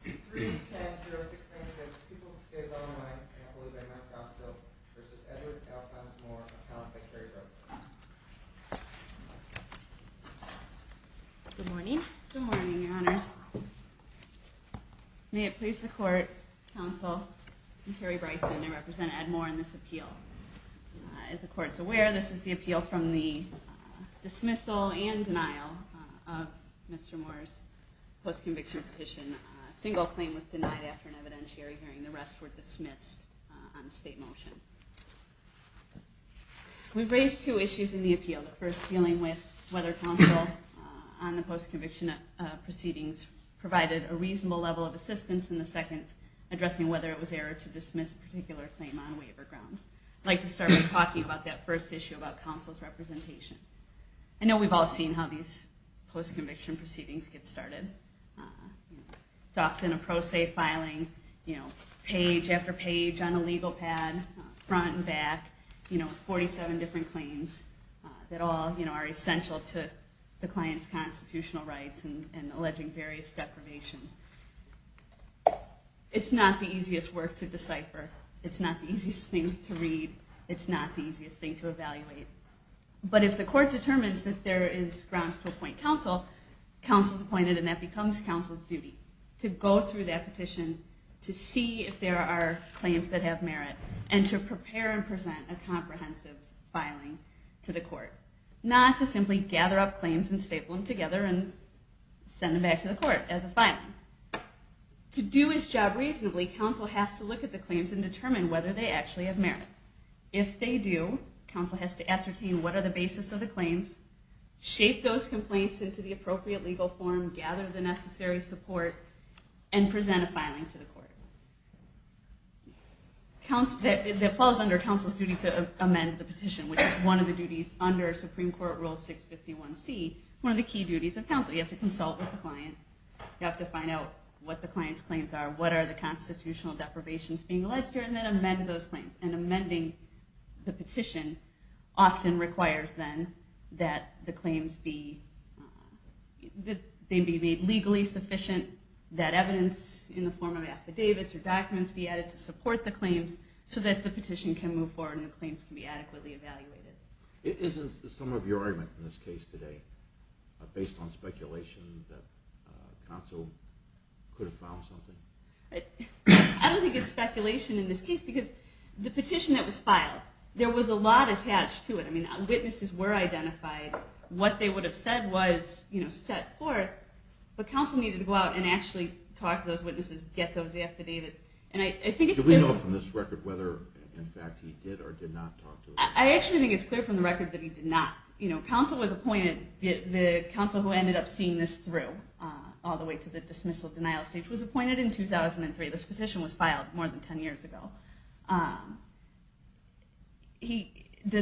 3, 10, 0, 6, 9, 6, people who stayed well and might, and I believe Edmund Frostville v. Edward L. Farnsmoor, appellant by Kerry Bryson. Good morning. Good morning, your honors. May it please the court, counsel, I'm Kerry Bryson. I represent Ed Moore in this appeal. As the court is aware, this is the appeal from the dismissal and denial of Mr. Moore's post-conviction petition. A single claim was denied after an evidentiary hearing. The rest were dismissed on a state motion. We've raised two issues in the appeal. The first, dealing with whether counsel on the post-conviction proceedings provided a reasonable level of assistance. And the second, addressing whether it was error to dismiss a particular claim on waiver grounds. I'd like to start by talking about that first issue about counsel's representation. I know we've all seen how these post-conviction proceedings get started. It's often a pro se filing, page after page on a legal pad, front and back. 47 different claims that all are essential to the client's constitutional rights and alleging various deprivations. It's not the easiest work to decipher. It's not the easiest thing to read. It's not the easiest thing to evaluate. But if the court determines that there is grounds to appoint counsel, counsel is appointed and that becomes counsel's duty. To go through that petition, to see if there are claims that have merit, and to prepare and present a comprehensive filing to the court. Not to simply gather up claims and staple them together and send them back to the court as a filing. To do his job reasonably, counsel has to look at the claims and determine whether they actually have merit. If they do, counsel has to ascertain what are the basis of the claims, shape those complaints into the appropriate legal form, gather the necessary support, and present a filing to the court. That falls under counsel's duty to amend the petition, which is one of the duties under Supreme Court Rule 651C, one of the key duties of counsel. You have to consult with the client, you have to find out what the client's claims are, what are the constitutional deprivations being alleged here, and then amend those claims. And amending the petition often requires then that the claims be made legally sufficient, that evidence in the form of affidavits or documents be added to support the claims so that the petition can move forward and the claims can be adequately evaluated. Isn't some of your argument in this case today based on speculation that counsel could have found something? I don't think it's speculation in this case, because the petition that was filed, there was a lot attached to it. Witnesses were identified, what they would have said was set forth, but counsel needed to go out and actually talk to those witnesses, get those affidavits. Do we know from this record whether, in fact, he did or did not talk to them? I actually think it's clear from the record that he did not. Counsel was appointed, the counsel who ended up seeing this through all the way to the dismissal denial stage was appointed in 2003. This petition was filed more than 10 years ago. The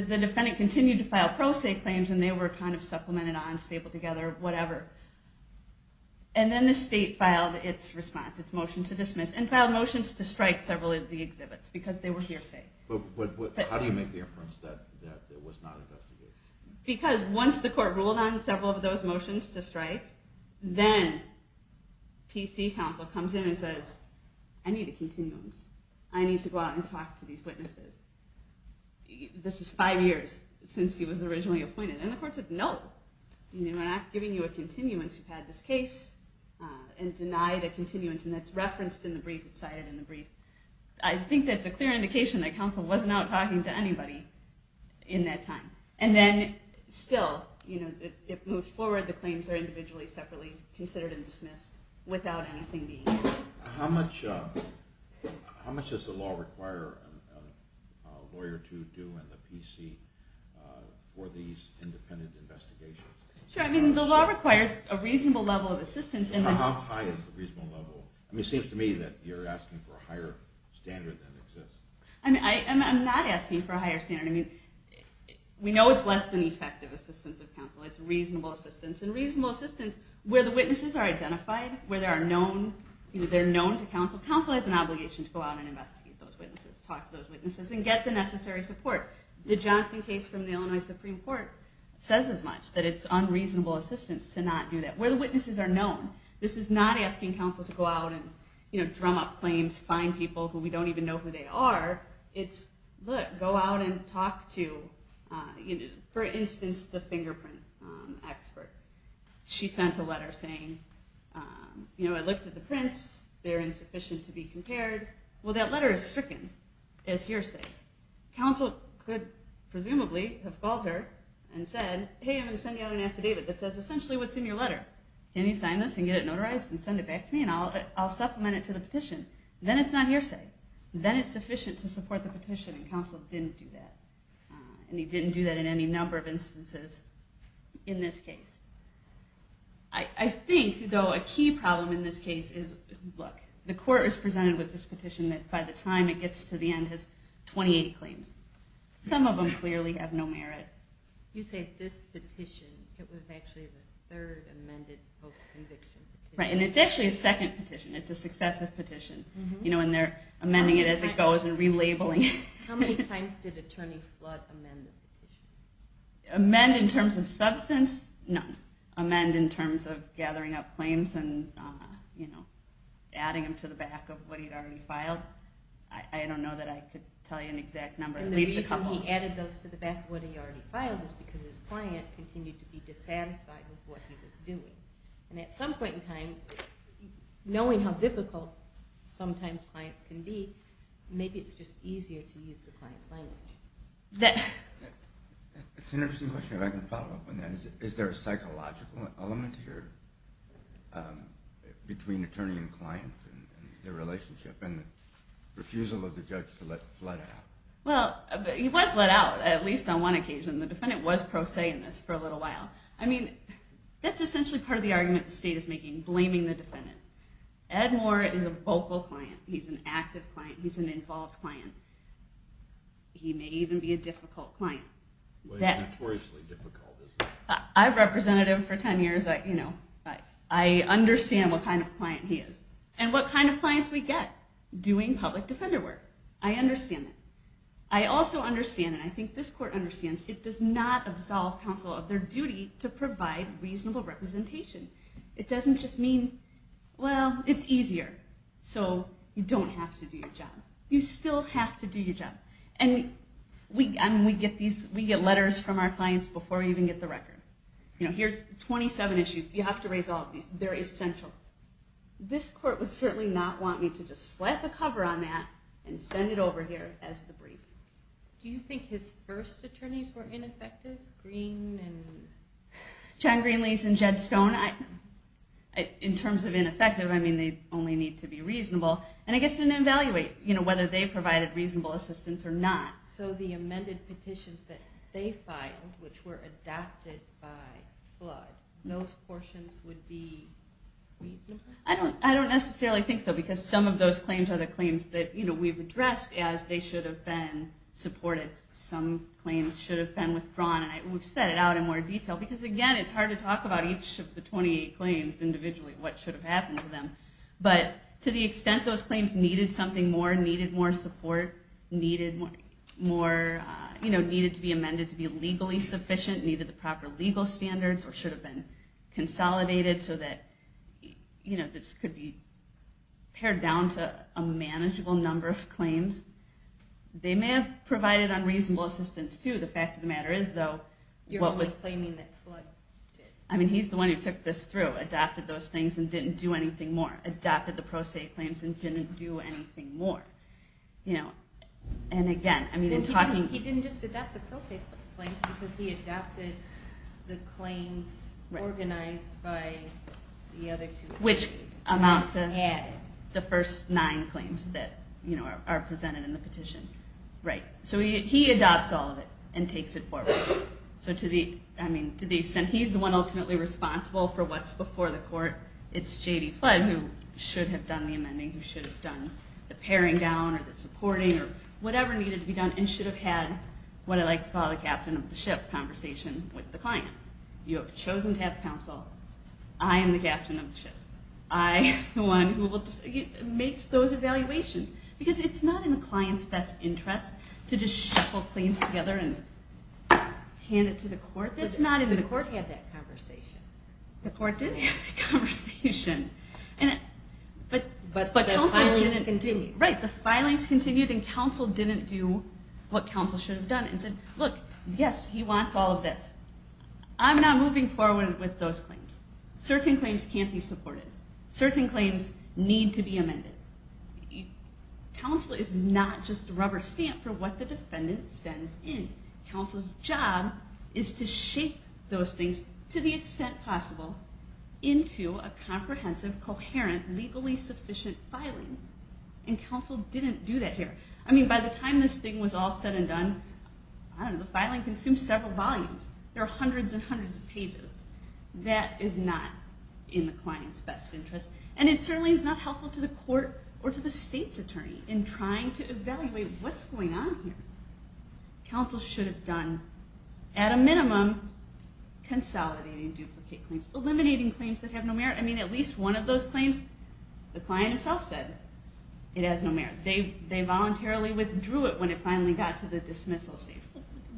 defendant continued to file pro se claims, and they were kind of supplemented on, stapled together, whatever. And then the state filed its response, its motion to dismiss, and filed motions to strike several of the exhibits, because they were hearsay. But how do you make the inference that it was not an investigation? Because once the court ruled on several of those motions to strike, then PC counsel comes in and says, I need a continuance. I need to go out and talk to these witnesses. This is five years since he was originally appointed. And the court said, no, we're not giving you a continuance. You've had this case and denied a continuance, and that's referenced in the brief, it's cited in the brief. I think that's a clear indication that counsel wasn't out talking to anybody in that time. And then still, it moves forward, the claims are individually, separately considered and dismissed without anything being used. How much does the law require a lawyer to do in the PC for these independent investigations? Sure, I mean, the law requires a reasonable level of assistance. How high is the reasonable level? I mean, it seems to me that you're asking for a higher standard than exists. I'm not asking for a higher standard. I mean, we know it's less than effective assistance of counsel, it's reasonable assistance. And reasonable assistance, where the witnesses are identified, where they're known to counsel, counsel has an obligation to go out and investigate those witnesses, talk to those witnesses, and get the necessary support. The Johnson case from the Illinois Supreme Court says as much, that it's unreasonable assistance to not do that. Where the witnesses are known. This is not asking counsel to go out and drum up claims, find people who we don't even know who they are. It's, look, go out and talk to, for instance, the fingerprint expert. She sent a letter saying, I looked at the prints, they're insufficient to be compared. Well, that letter is stricken, as hearsay. Counsel could, presumably, have called her and said, hey, I'm going to send you out an affidavit that says essentially what's in your letter. Can you sign this and get it notarized and send it back to me and I'll supplement it to the petition? Then it's not hearsay. Then it's sufficient to support the petition. And counsel didn't do that. And he didn't do that in any number of instances in this case. I think, though, a key problem in this case is, look, the court is presented with this petition that by the time it gets to the end has 28 claims. Some of them clearly have no merit. You say this petition. It was actually the third amended post-conviction petition. Right. And it's actually a second petition. It's a successive petition. And they're amending it as it goes and relabeling it. How many times did Attorney Flood amend the petition? Amend in terms of substance? No. Amend in terms of gathering up claims and adding them to the back of what he'd already filed. I don't know that I could tell you an exact number. And the reason he added those to the back of what he already filed is because his client continued to be dissatisfied with what he was doing. And at some point in time, knowing how difficult sometimes clients can be, maybe it's just easier to use the client's language. It's an interesting question, if I can follow up on that. Is there a psychological element here between attorney and client and their relationship and the refusal of the judge to let Flood out? Well, he was let out, at least on one occasion. The defendant was pro se in this for a little while. I mean, that's essentially part of the argument the state is making, blaming the defendant. Ed Moore is a vocal client. He's an active client. He's an involved client. He may even be a difficult client. Notoriously difficult, isn't he? I've represented him for 10 years. I understand what kind of client he is and what kind of clients we get doing public defender work. I understand that. I also understand, and I think this court understands, it does not absolve counsel of their duty to provide reasonable representation. It doesn't just mean, well, it's easier. So you don't have to do your job. You still have to do your job. And we get letters from our clients before we even get the record. Here's 27 issues. You have to raise all of these. They're essential. This court would certainly not want me to just slap the cover on that and send it over here as the brief. Do you think his first attorneys were ineffective? John Greenlees and Jed Stone? In terms of ineffective, I mean, they only need to be reasonable. And I guess they didn't evaluate whether they provided reasonable assistance or not. So the amended petitions that they filed, which were adopted by flood, those portions would be reasonable? I don't necessarily think so, because some of those claims are the claims that we've addressed as they should have been supported. Some claims should have been withdrawn. And we've set it out in more detail. Because, again, it's hard to talk about each of the 28 claims individually, what should have happened to them. But to the extent those claims needed something more, needed more support, needed to be amended to be legally sufficient, needed the proper legal standards or should have been consolidated so that this could be pared down to a manageable number of claims, they may have provided unreasonable assistance, too. The fact of the matter is, though, what was... You're only claiming that flood did. I mean, he's the one who took this through, adopted those things and didn't do anything more, adopted the Pro Se claims and didn't do anything more. And, again, I mean, in talking... He didn't just adopt the Pro Se claims because he adopted the claims organized by the other two. Which amount to the first nine claims that are presented in the petition. Right. So he adopts all of it and takes it forward. So to the extent... He's the one ultimately responsible for what's before the court. It's J.D. Flood who should have done the amending, who should have done the paring down or the supporting or whatever needed to be done and should have had what I like to call the captain of the ship conversation with the client. You have chosen to have counsel. I am the captain of the ship. I am the one who makes those evaluations. Because it's not in the client's best interest to just shuffle claims together and hand it to the court. The court had that conversation. The court did have that conversation. But the filings continued. Right. The filings continued and counsel didn't do what counsel should have done and said, look, yes, he wants all of this. I'm not moving forward with those claims. Certain claims can't be supported. Certain claims need to be amended. Counsel is not just a rubber stamp for what the defendant sends in. Counsel's job is to shape those things to the extent possible into a comprehensive, coherent, legally sufficient filing. And counsel didn't do that here. I mean, by the time this thing was all said and done, I don't know, the filing consumed several volumes. There are hundreds and hundreds of pages. That is not in the client's best interest. And it certainly is not helpful to the court or to the state's attorney in trying to evaluate what's going on here. Counsel should have done, at a minimum, consolidating duplicate claims, eliminating claims that have no merit. I mean, at least one of those claims, the client himself said it has no merit. They voluntarily withdrew it when it finally got to the dismissal stage.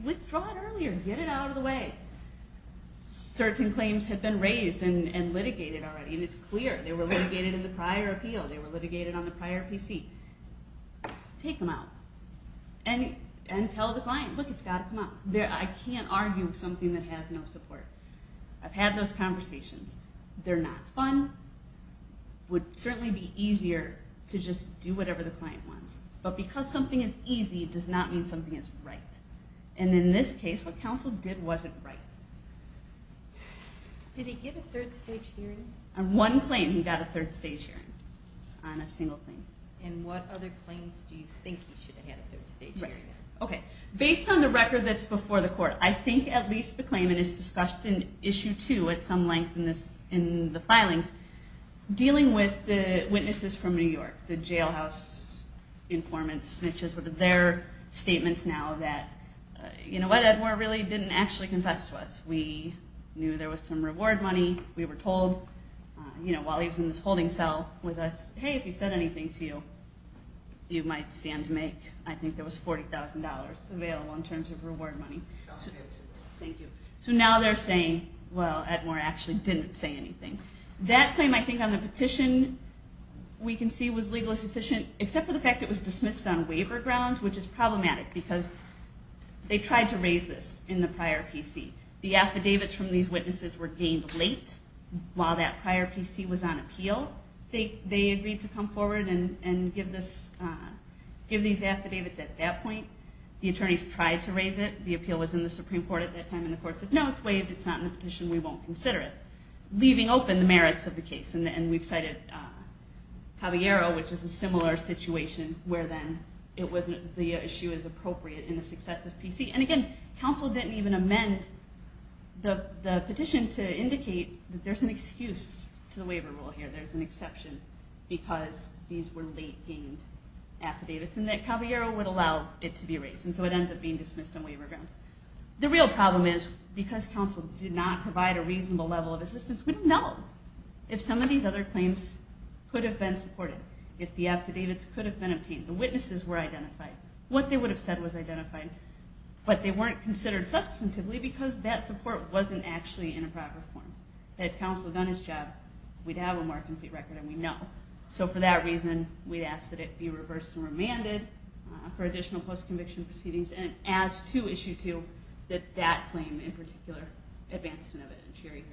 Withdraw it earlier. Get it out of the way. Certain claims have been raised and litigated already, and it's clear. They were litigated in the prior appeal. They were litigated on the prior PC. Take them out. And tell the client, look, it's got to come out. I can't argue with something that has no support. I've had those conversations. They're not fun. It would certainly be easier to just do whatever the client wants. But because something is easy, it does not mean something is right. And in this case, what counsel did wasn't right. Did he get a third stage hearing? On one claim, he got a third stage hearing. On a single claim. And what other claims do you think he should have had a third stage hearing on? Based on the record that's before the court, I think at least the claimant is discussed in Issue 2 at some length in the filings, dealing with the witnesses from New York, the jailhouse informants, which is their statements now that, you know what, Edmore really didn't actually confess to us. We knew there was some reward money. We were told while he was in this holding cell with us, hey, if he said anything to you, you might stand to make, I think there was $40,000 available in terms of reward money. Thank you. So now they're saying, well, Edmore actually didn't say anything. That claim, I think, on the petition we can see was legally sufficient, except for the fact it was dismissed on waiver grounds, which is problematic because they tried to raise this in the prior PC. The affidavits from these witnesses were gained late while that prior PC was on appeal. They agreed to come forward and give these affidavits at that point. The attorneys tried to raise it. The appeal was in the Supreme Court at that time, and the court said, no, it's waived. It's not in the petition. We won't consider it, leaving open the merits of the case. And we've cited Caballero, which is a similar situation, where then the issue is appropriate in the success of PC. And again, counsel didn't even amend the petition to indicate that there's an excuse to the waiver rule here. There's an exception because these were late-gained affidavits and that Caballero would allow it to be raised. And so it ends up being dismissed on waiver grounds. The real problem is because counsel did not provide a reasonable level of assistance, we don't know if some of these other claims could have been supported, if the affidavits could have been obtained. The witnesses were identified. What they would have said was identified. But they weren't considered substantively because that support wasn't actually in a proper form. Had counsel done his job, we'd have a more complete record, and we know. So for that reason, we'd ask that it be reversed and remanded for additional post-conviction proceedings, and ask to issue, too, that that claim, in particular, advance to an evidence hearing.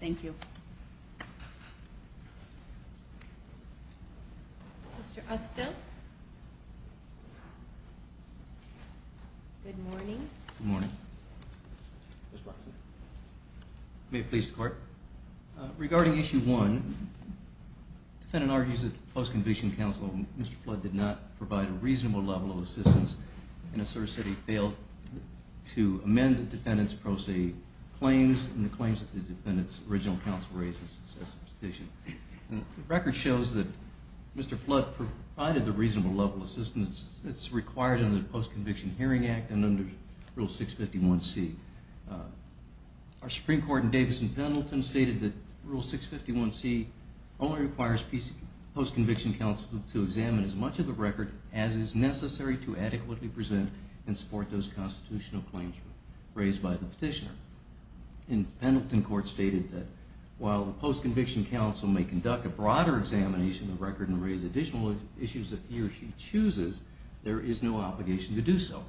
Thank you. Thank you. Mr. Ustin. Good morning. Good morning. May it please the Court. Regarding Issue 1, the defendant argues that the post-conviction counsel, Mr. Flood, did not provide a reasonable level of assistance and asserts that he failed to amend the defendant's pro se claims and the claims that the defendant's original counsel raised in the successive petition. The record shows that Mr. Flood provided the reasonable level of assistance that's required under the Post-Conviction Hearing Act and under Rule 651C. Our Supreme Court in Davidson-Pendleton stated that Rule 651C only requires post-conviction counsel to examine as much of the record as is necessary to adequately present and support those constitutional claims raised by the petitioner. And Pendleton Court stated that while the post-conviction counsel may conduct a broader examination of the record and raise additional issues that he or she chooses, there is no obligation to do so.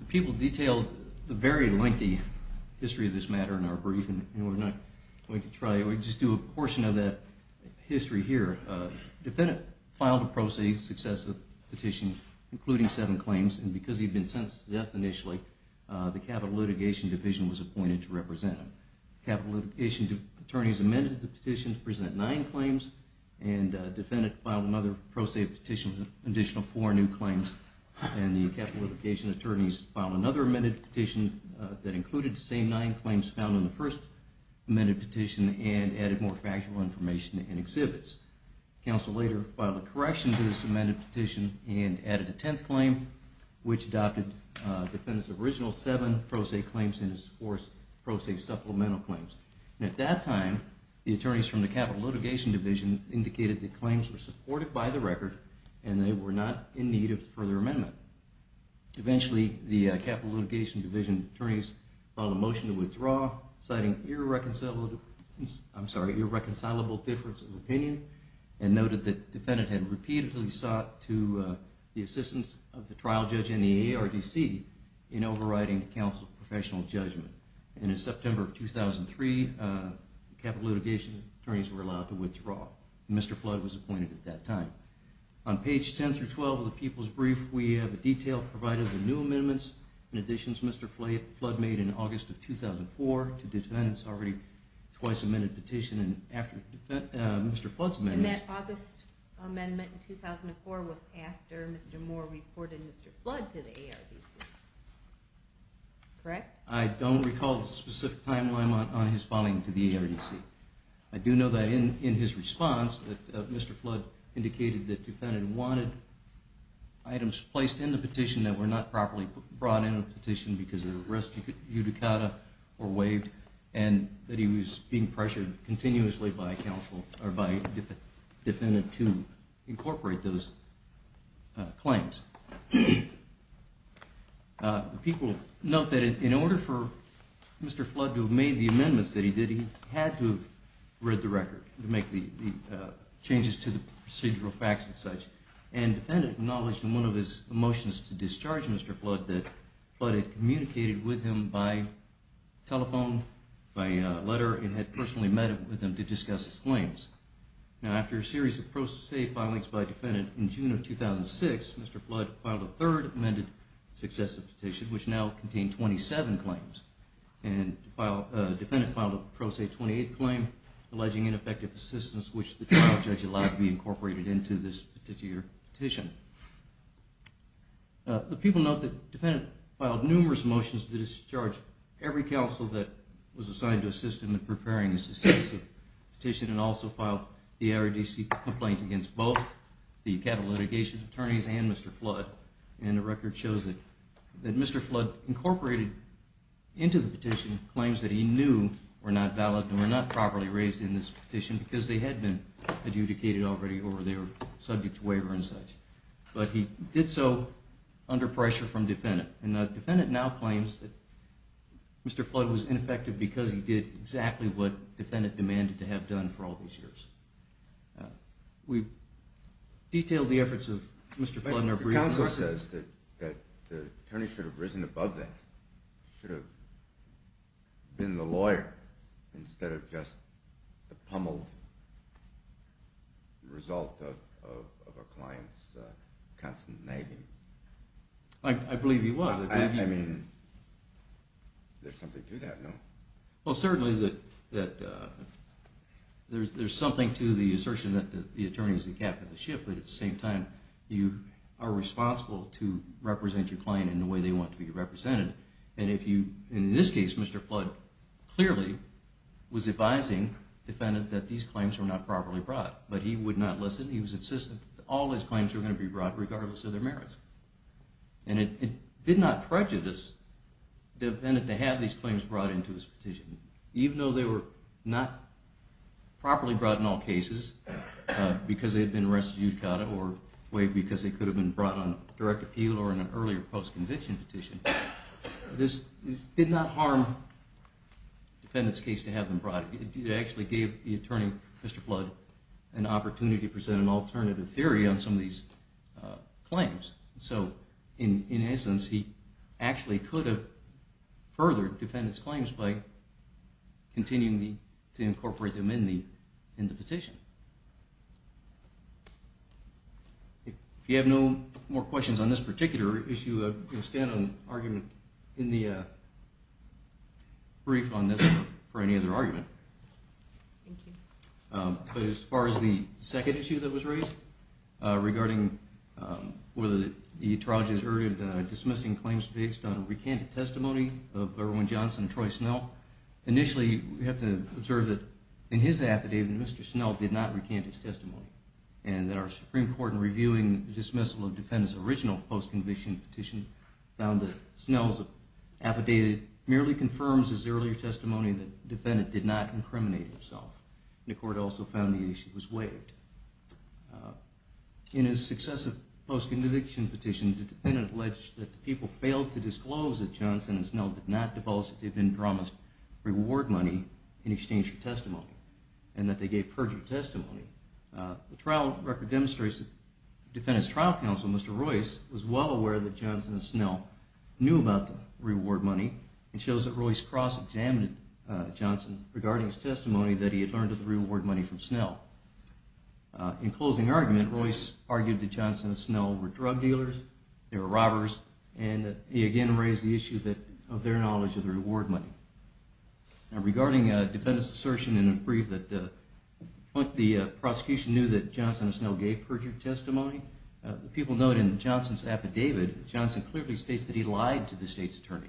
The people detailed the very lengthy history of this matter in our briefing, and we're not going to try it. We'll just do a portion of that history here. The defendant filed a pro se successive petition, including seven claims, and because he'd been sentenced to death initially, the capital litigation division was appointed to represent him. The capital litigation attorneys amended the petition to present nine claims, and the defendant filed another pro se petition with an additional four new claims, and the capital litigation attorneys filed another amended petition that included the same nine claims found in the first amended petition and added more factual information and exhibits. Counsel later filed a correction to this amended petition and added a tenth claim, which adopted the defendant's original seven pro se claims and his fourth pro se supplemental claims. And at that time, the attorneys from the capital litigation division indicated that claims were supported by the record and they were not in need of further amendment. Eventually, the capital litigation division attorneys filed a motion to withdraw, citing irreconcilable difference of opinion and noted that the defendant had repeatedly sought the assistance of the trial judge and the ARDC in overriding counsel's professional judgment. And in September of 2003, the capital litigation attorneys were allowed to withdraw. Mr. Flood was appointed at that time. On page 10 through 12 of the people's brief, we have a detail providing the new amendments and additions Mr. Flood made in August of 2004 to the defendant's already twice-amended petition. And after Mr. Flood's amendment... And that August amendment in 2004 was after Mr. Moore reported Mr. Flood to the ARDC. Correct? I don't recall the specific timeline on his filing to the ARDC. I do know that in his response, Mr. Flood indicated that the defendant wanted items placed in the petition that were not properly brought in the petition because of an arrest judicata or waived and that he was being pressured continuously by counsel or by the defendant to incorporate those claims. People note that in order for Mr. Flood to have made the amendments that he did, he had to have read the record to make the changes to the procedural facts and such. And the defendant acknowledged in one of his motions to discharge Mr. Flood that Flood had communicated with him by telephone, by letter, and had personally met with him to discuss his claims. Now after a series of pro se filings by a defendant in June of 2006, Mr. Flood filed a third amended successive petition, which now contained 27 claims. And the defendant filed a pro se 28th claim alleging ineffective assistance, which the trial judge allowed to be incorporated into this particular petition. The people note that the defendant filed numerous motions to discharge every counsel that was assigned to assist him in preparing the successive petition and also filed the ARDC complaint against both the capital litigation attorneys and Mr. Flood. And the record shows that Mr. Flood incorporated into the petition claims that he knew were not valid and were not properly raised in this petition because they had been adjudicated already or they were subject to waiver and such. But he did so under pressure from the defendant. And the defendant now claims that Mr. Flood was ineffective because he did exactly what the defendant demanded to have done for all these years. We've detailed the efforts of Mr. Flood in our brief. The counsel says that the attorney should have risen above that, should have been the lawyer instead of just the pummeled result of a client's constant nagging. I believe he was. I mean, there's something to that, no? Well, certainly there's something to the assertion that the attorney is the captain of the ship, but at the same time you are responsible to represent your client in the way they want to be represented. And in this case, Mr. Flood clearly was advising the defendant that these claims were not properly brought. But he would not listen. He was insistent that all his claims were going to be brought regardless of their merits. And it did not prejudice the defendant to have these claims brought into his petition, even though they were not properly brought in all cases because they had been rescued, or because they could have been brought on direct appeal or in an earlier post-conviction petition. This did not harm the defendant's case to have them brought. It actually gave the attorney, Mr. Flood, an opportunity to present an alternative theory on some of these claims. So, in essence, he actually could have furthered defendants' claims by continuing to incorporate them in the petition. If you have no more questions on this particular issue, stand on argument in the brief on this for any other argument. Thank you. As far as the second issue that was raised regarding whether the attorney has erred in dismissing claims based on recanted testimony of Erwin Johnson and Troy Snell, initially, we have to observe that in his affidavit, Mr. Snell did not recant his testimony. And that our Supreme Court, in reviewing the dismissal of defendants' original post-conviction petition, found that Snell's affidavit merely confirms his earlier testimony that the defendant did not incriminate himself. The court also found the issue was waived. In his successive post-conviction petitions, the defendant alleged that the people failed to disclose that Johnson and Snell did not divulge that they had been drawn as reward money in exchange for testimony, and that they gave perjury testimony. The trial record demonstrates that the defendant's trial counsel, Mr. Royce, was well aware that Johnson and Snell knew about the reward money, and shows that Royce cross-examined Johnson regarding his testimony that he had learned of the reward money from Snell. In closing argument, Royce argued that Johnson and Snell were drug dealers, they were robbers, and he again raised the issue of their knowledge of the reward money. Regarding defendant's assertion in a brief that the prosecution knew that Johnson and Snell gave perjury testimony, the people noted in Johnson's affidavit, Johnson clearly states that he lied to the state's attorney.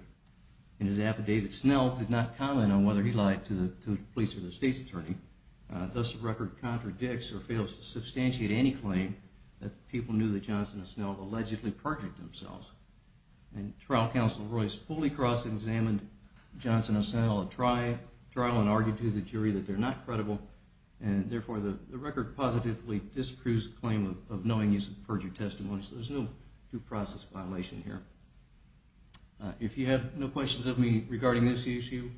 In his affidavit, Snell did not comment on whether he lied to the police or the state's attorney. Thus, the record contradicts or fails to substantiate any claim that people knew that Johnson and Snell allegedly perjured themselves. And trial counsel Royce fully cross-examined Johnson and Snell at trial, and argued to the jury that they're not credible, and therefore the record positively disapproves the claim of knowing he's perjured testimony, so there's no due process violation here. If you have no questions of me regarding this issue,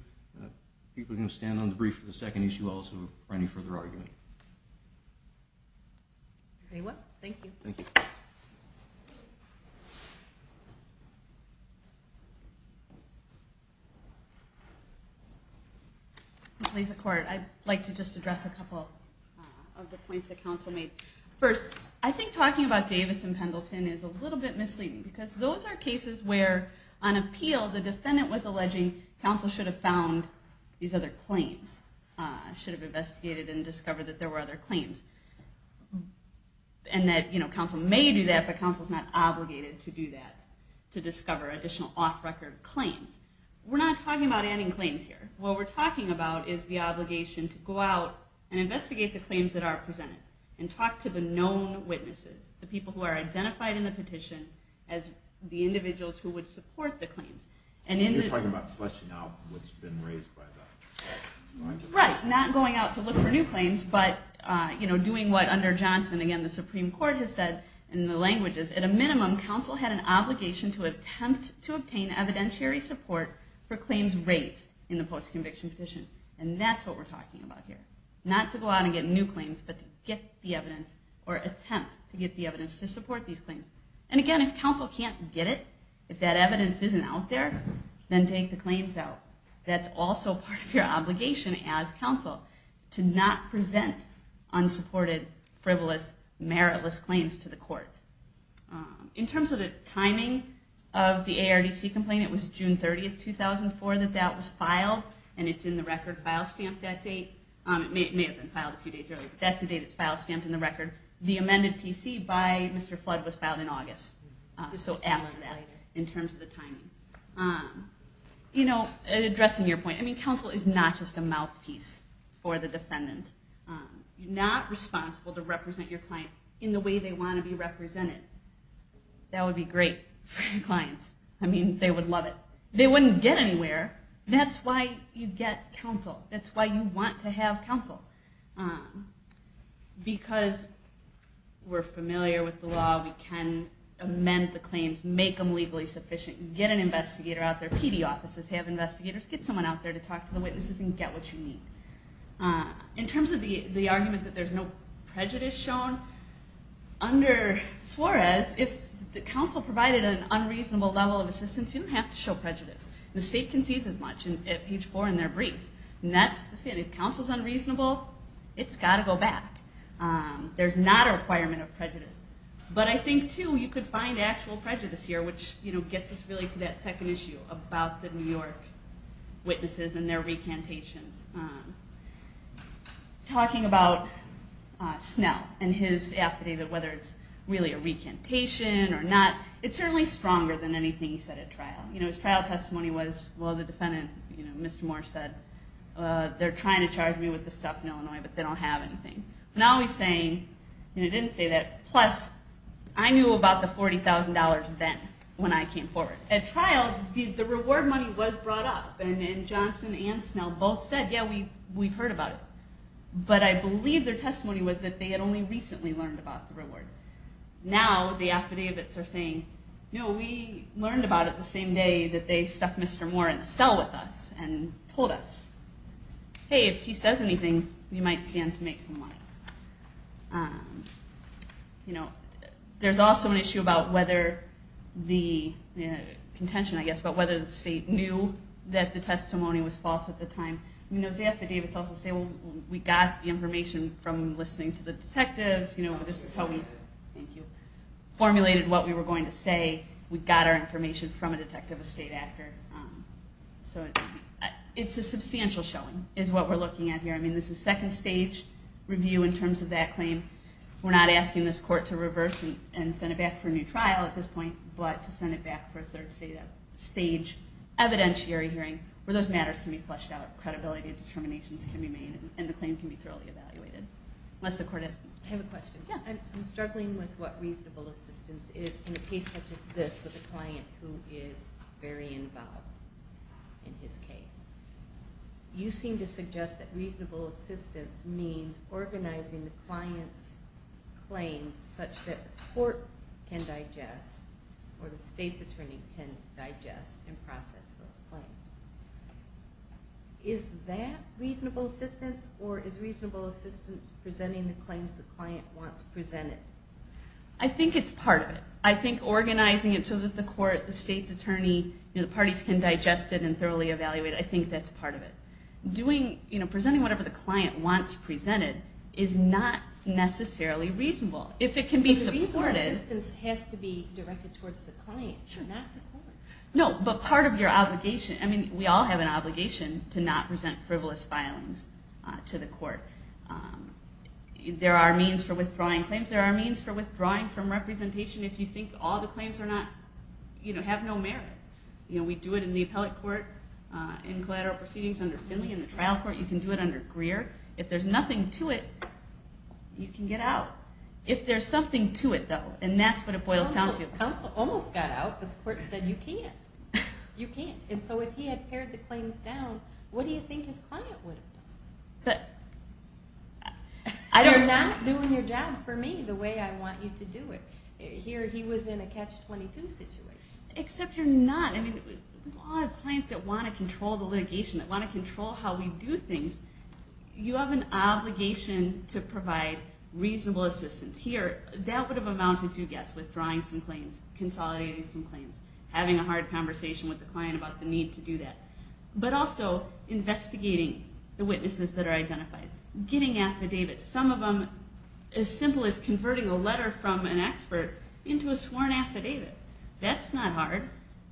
people can stand on the brief for the second issue also, or any further argument. Thank you. I'd like to just address a couple of the points that counsel made. First, I think talking about Davis and Pendleton is a little bit misleading, because those are cases where, on appeal, the defendant was alleging counsel should have found these other claims, should have investigated and discovered that there were other claims, and that counsel may do that, but counsel's not obligated to do that, to discover additional off-record claims. We're not talking about adding claims here. What we're talking about is the obligation to go out and investigate the claims that are presented, and talk to the known witnesses, the people who are identified in the petition, as the individuals who would support the claims. You're talking about fleshing out what's been raised by that. Right, not going out to look for new claims, but doing what, under Johnson, the Supreme Court has said in the languages, at a minimum, counsel had an obligation to attempt to obtain evidentiary support for claims raised in the post-conviction petition. And that's what we're talking about here. Not to go out and get new claims, but to get the evidence, or attempt to get the evidence to support these claims. And again, if counsel can't get it, if that evidence isn't out there, then take the claims out. That's also part of your obligation as counsel, to not present unsupported, frivolous, meritless claims to the court. In terms of the timing of the ARDC complaint, it was June 30, 2004, that that was filed, and it's in the record file stamp that date. It may have been filed a few days earlier, but that's the date it's file stamped in the record. The amended PC by Mr. Flood was filed in August. So after that, in terms of the timing. Addressing your point, counsel is not just a mouthpiece for the defendant. You're not responsible to represent your client in the way they want to be represented. That would be great for your clients. I mean, they would love it. They wouldn't get anywhere. That's why you get counsel. That's why you want to have counsel. Because we're familiar with the law, we can amend the claims, make them legally sufficient, get an investigator out there. PD offices have investigators. Get someone out there to talk to the witnesses and get what you need. In terms of the argument that there's no prejudice shown, under Suarez, if the counsel provided an unreasonable level of assistance, you don't have to show prejudice. The state concedes as much at page four in their brief. And that's the thing. If counsel's unreasonable, it's got to go back. There's not a requirement of prejudice. But I think, too, you could find actual prejudice here, which gets us really to that second issue about the New York witnesses and their recantations. Talking about Snell and his affidavit, whether it's really a recantation or not, it's certainly stronger than anything he said at trial. His trial testimony was, well, the defendant, Mr. Moore, said, they're trying to charge me with this stuff in Illinois, but they don't have anything. But now he's saying, he didn't say that. Plus, I knew about the $40,000 then when I came forward. At trial, the reward money was brought up. And Johnson and Snell both said, yeah, we've heard about it. about the reward. Now the affidavits are saying, no, we learned about it the same day that they stuck Mr. Moore in the cell with us and told us. Hey, if he says anything, you might stand to make some money. There's also an issue about whether the state knew that the testimony was false at the time. Those affidavits also say, well, we got the information from listening to the detectives. This is how we formulated what we were going to say. We got our information from a detective, a state actor. So it's a substantial showing is what we're looking at here. I mean, this is second stage review in terms of that claim. We're not asking this court to reverse and send it back for a new trial at this point, but to send it back for a third stage evidentiary hearing where those matters can be fleshed out, credibility and determinations can be made, and the claim can be thoroughly evaluated. I have a question. Yeah. I'm struggling with what reasonable assistance is in a case such as this with a client who is very involved in his case. You seem to suggest that reasonable assistance means organizing the client's claims such that the court can digest or the state's attorney can digest and process those claims. Is that reasonable assistance or is reasonable assistance presenting the claims the client wants presented? I think it's part of it. I think organizing it so that the court, the state's attorney, the parties can digest it and thoroughly evaluate it, I think that's part of it. Presenting whatever the client wants presented is not necessarily reasonable. If it can be supported... But reasonable assistance has to be directed towards the client, not the court. No, but part of your obligation, I mean, we all have an obligation to not present frivolous filings to the court. There are means for withdrawing claims. There are means for withdrawing from representation if you think all the claims have no merit. We do it in the appellate court, in collateral proceedings, under Finley, in the trial court. You can do it under Greer. If there's nothing to it, you can get out. If there's something to it, though, and that's what it boils down to. Counsel almost got out, but the court said you can't. You can't. And so if he had pared the claims down, what do you think his client would have done? You're not doing your job for me the way I want you to do it. Here he was in a catch-22 situation. Except you're not. I mean, we all have clients that want to control the litigation, that want to control how we do things. You have an obligation to provide reasonable assistance. Here, that would have amounted to, yes, withdrawing some claims, consolidating some claims, having a hard conversation with the client about the need to do that. But also investigating the witnesses that are identified. Getting affidavits. Some of them as simple as converting a letter from an expert into a sworn affidavit. That's not hard.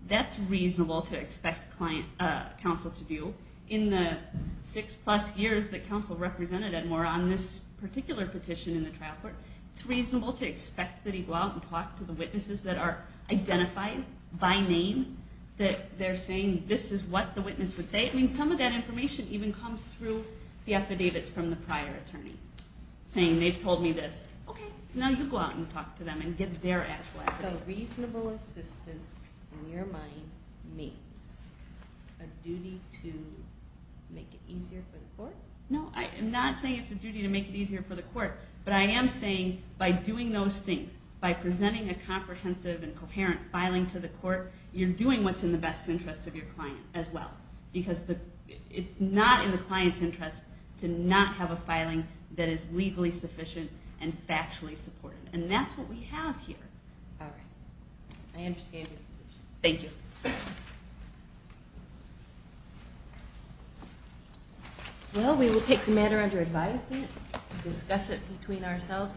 That's reasonable to expect counsel to do. In the six-plus years that counsel represented Edmore on this particular petition in the trial court, it's reasonable to expect that he go out and talk to the witnesses that are identified by name, that they're saying this is what the witness would say. I mean, some of that information even comes through the affidavits from the prior attorney, saying they've told me this. Okay, now you go out and talk to them and get their actual affidavit. So reasonable assistance, in your mind, means a duty to make it easier for the court? No, I'm not saying it's a duty to make it easier for the court. But I am saying by doing those things, by presenting a comprehensive and coherent filing to the court, you're doing what's in the best interest of your client as well. Because it's not in the client's interest to not have a filing that is legally sufficient and factually supported. And that's what we have here. All right. I understand your position. Thank you. Thank you. Well, we will take the matter under advisement, discuss it between ourselves,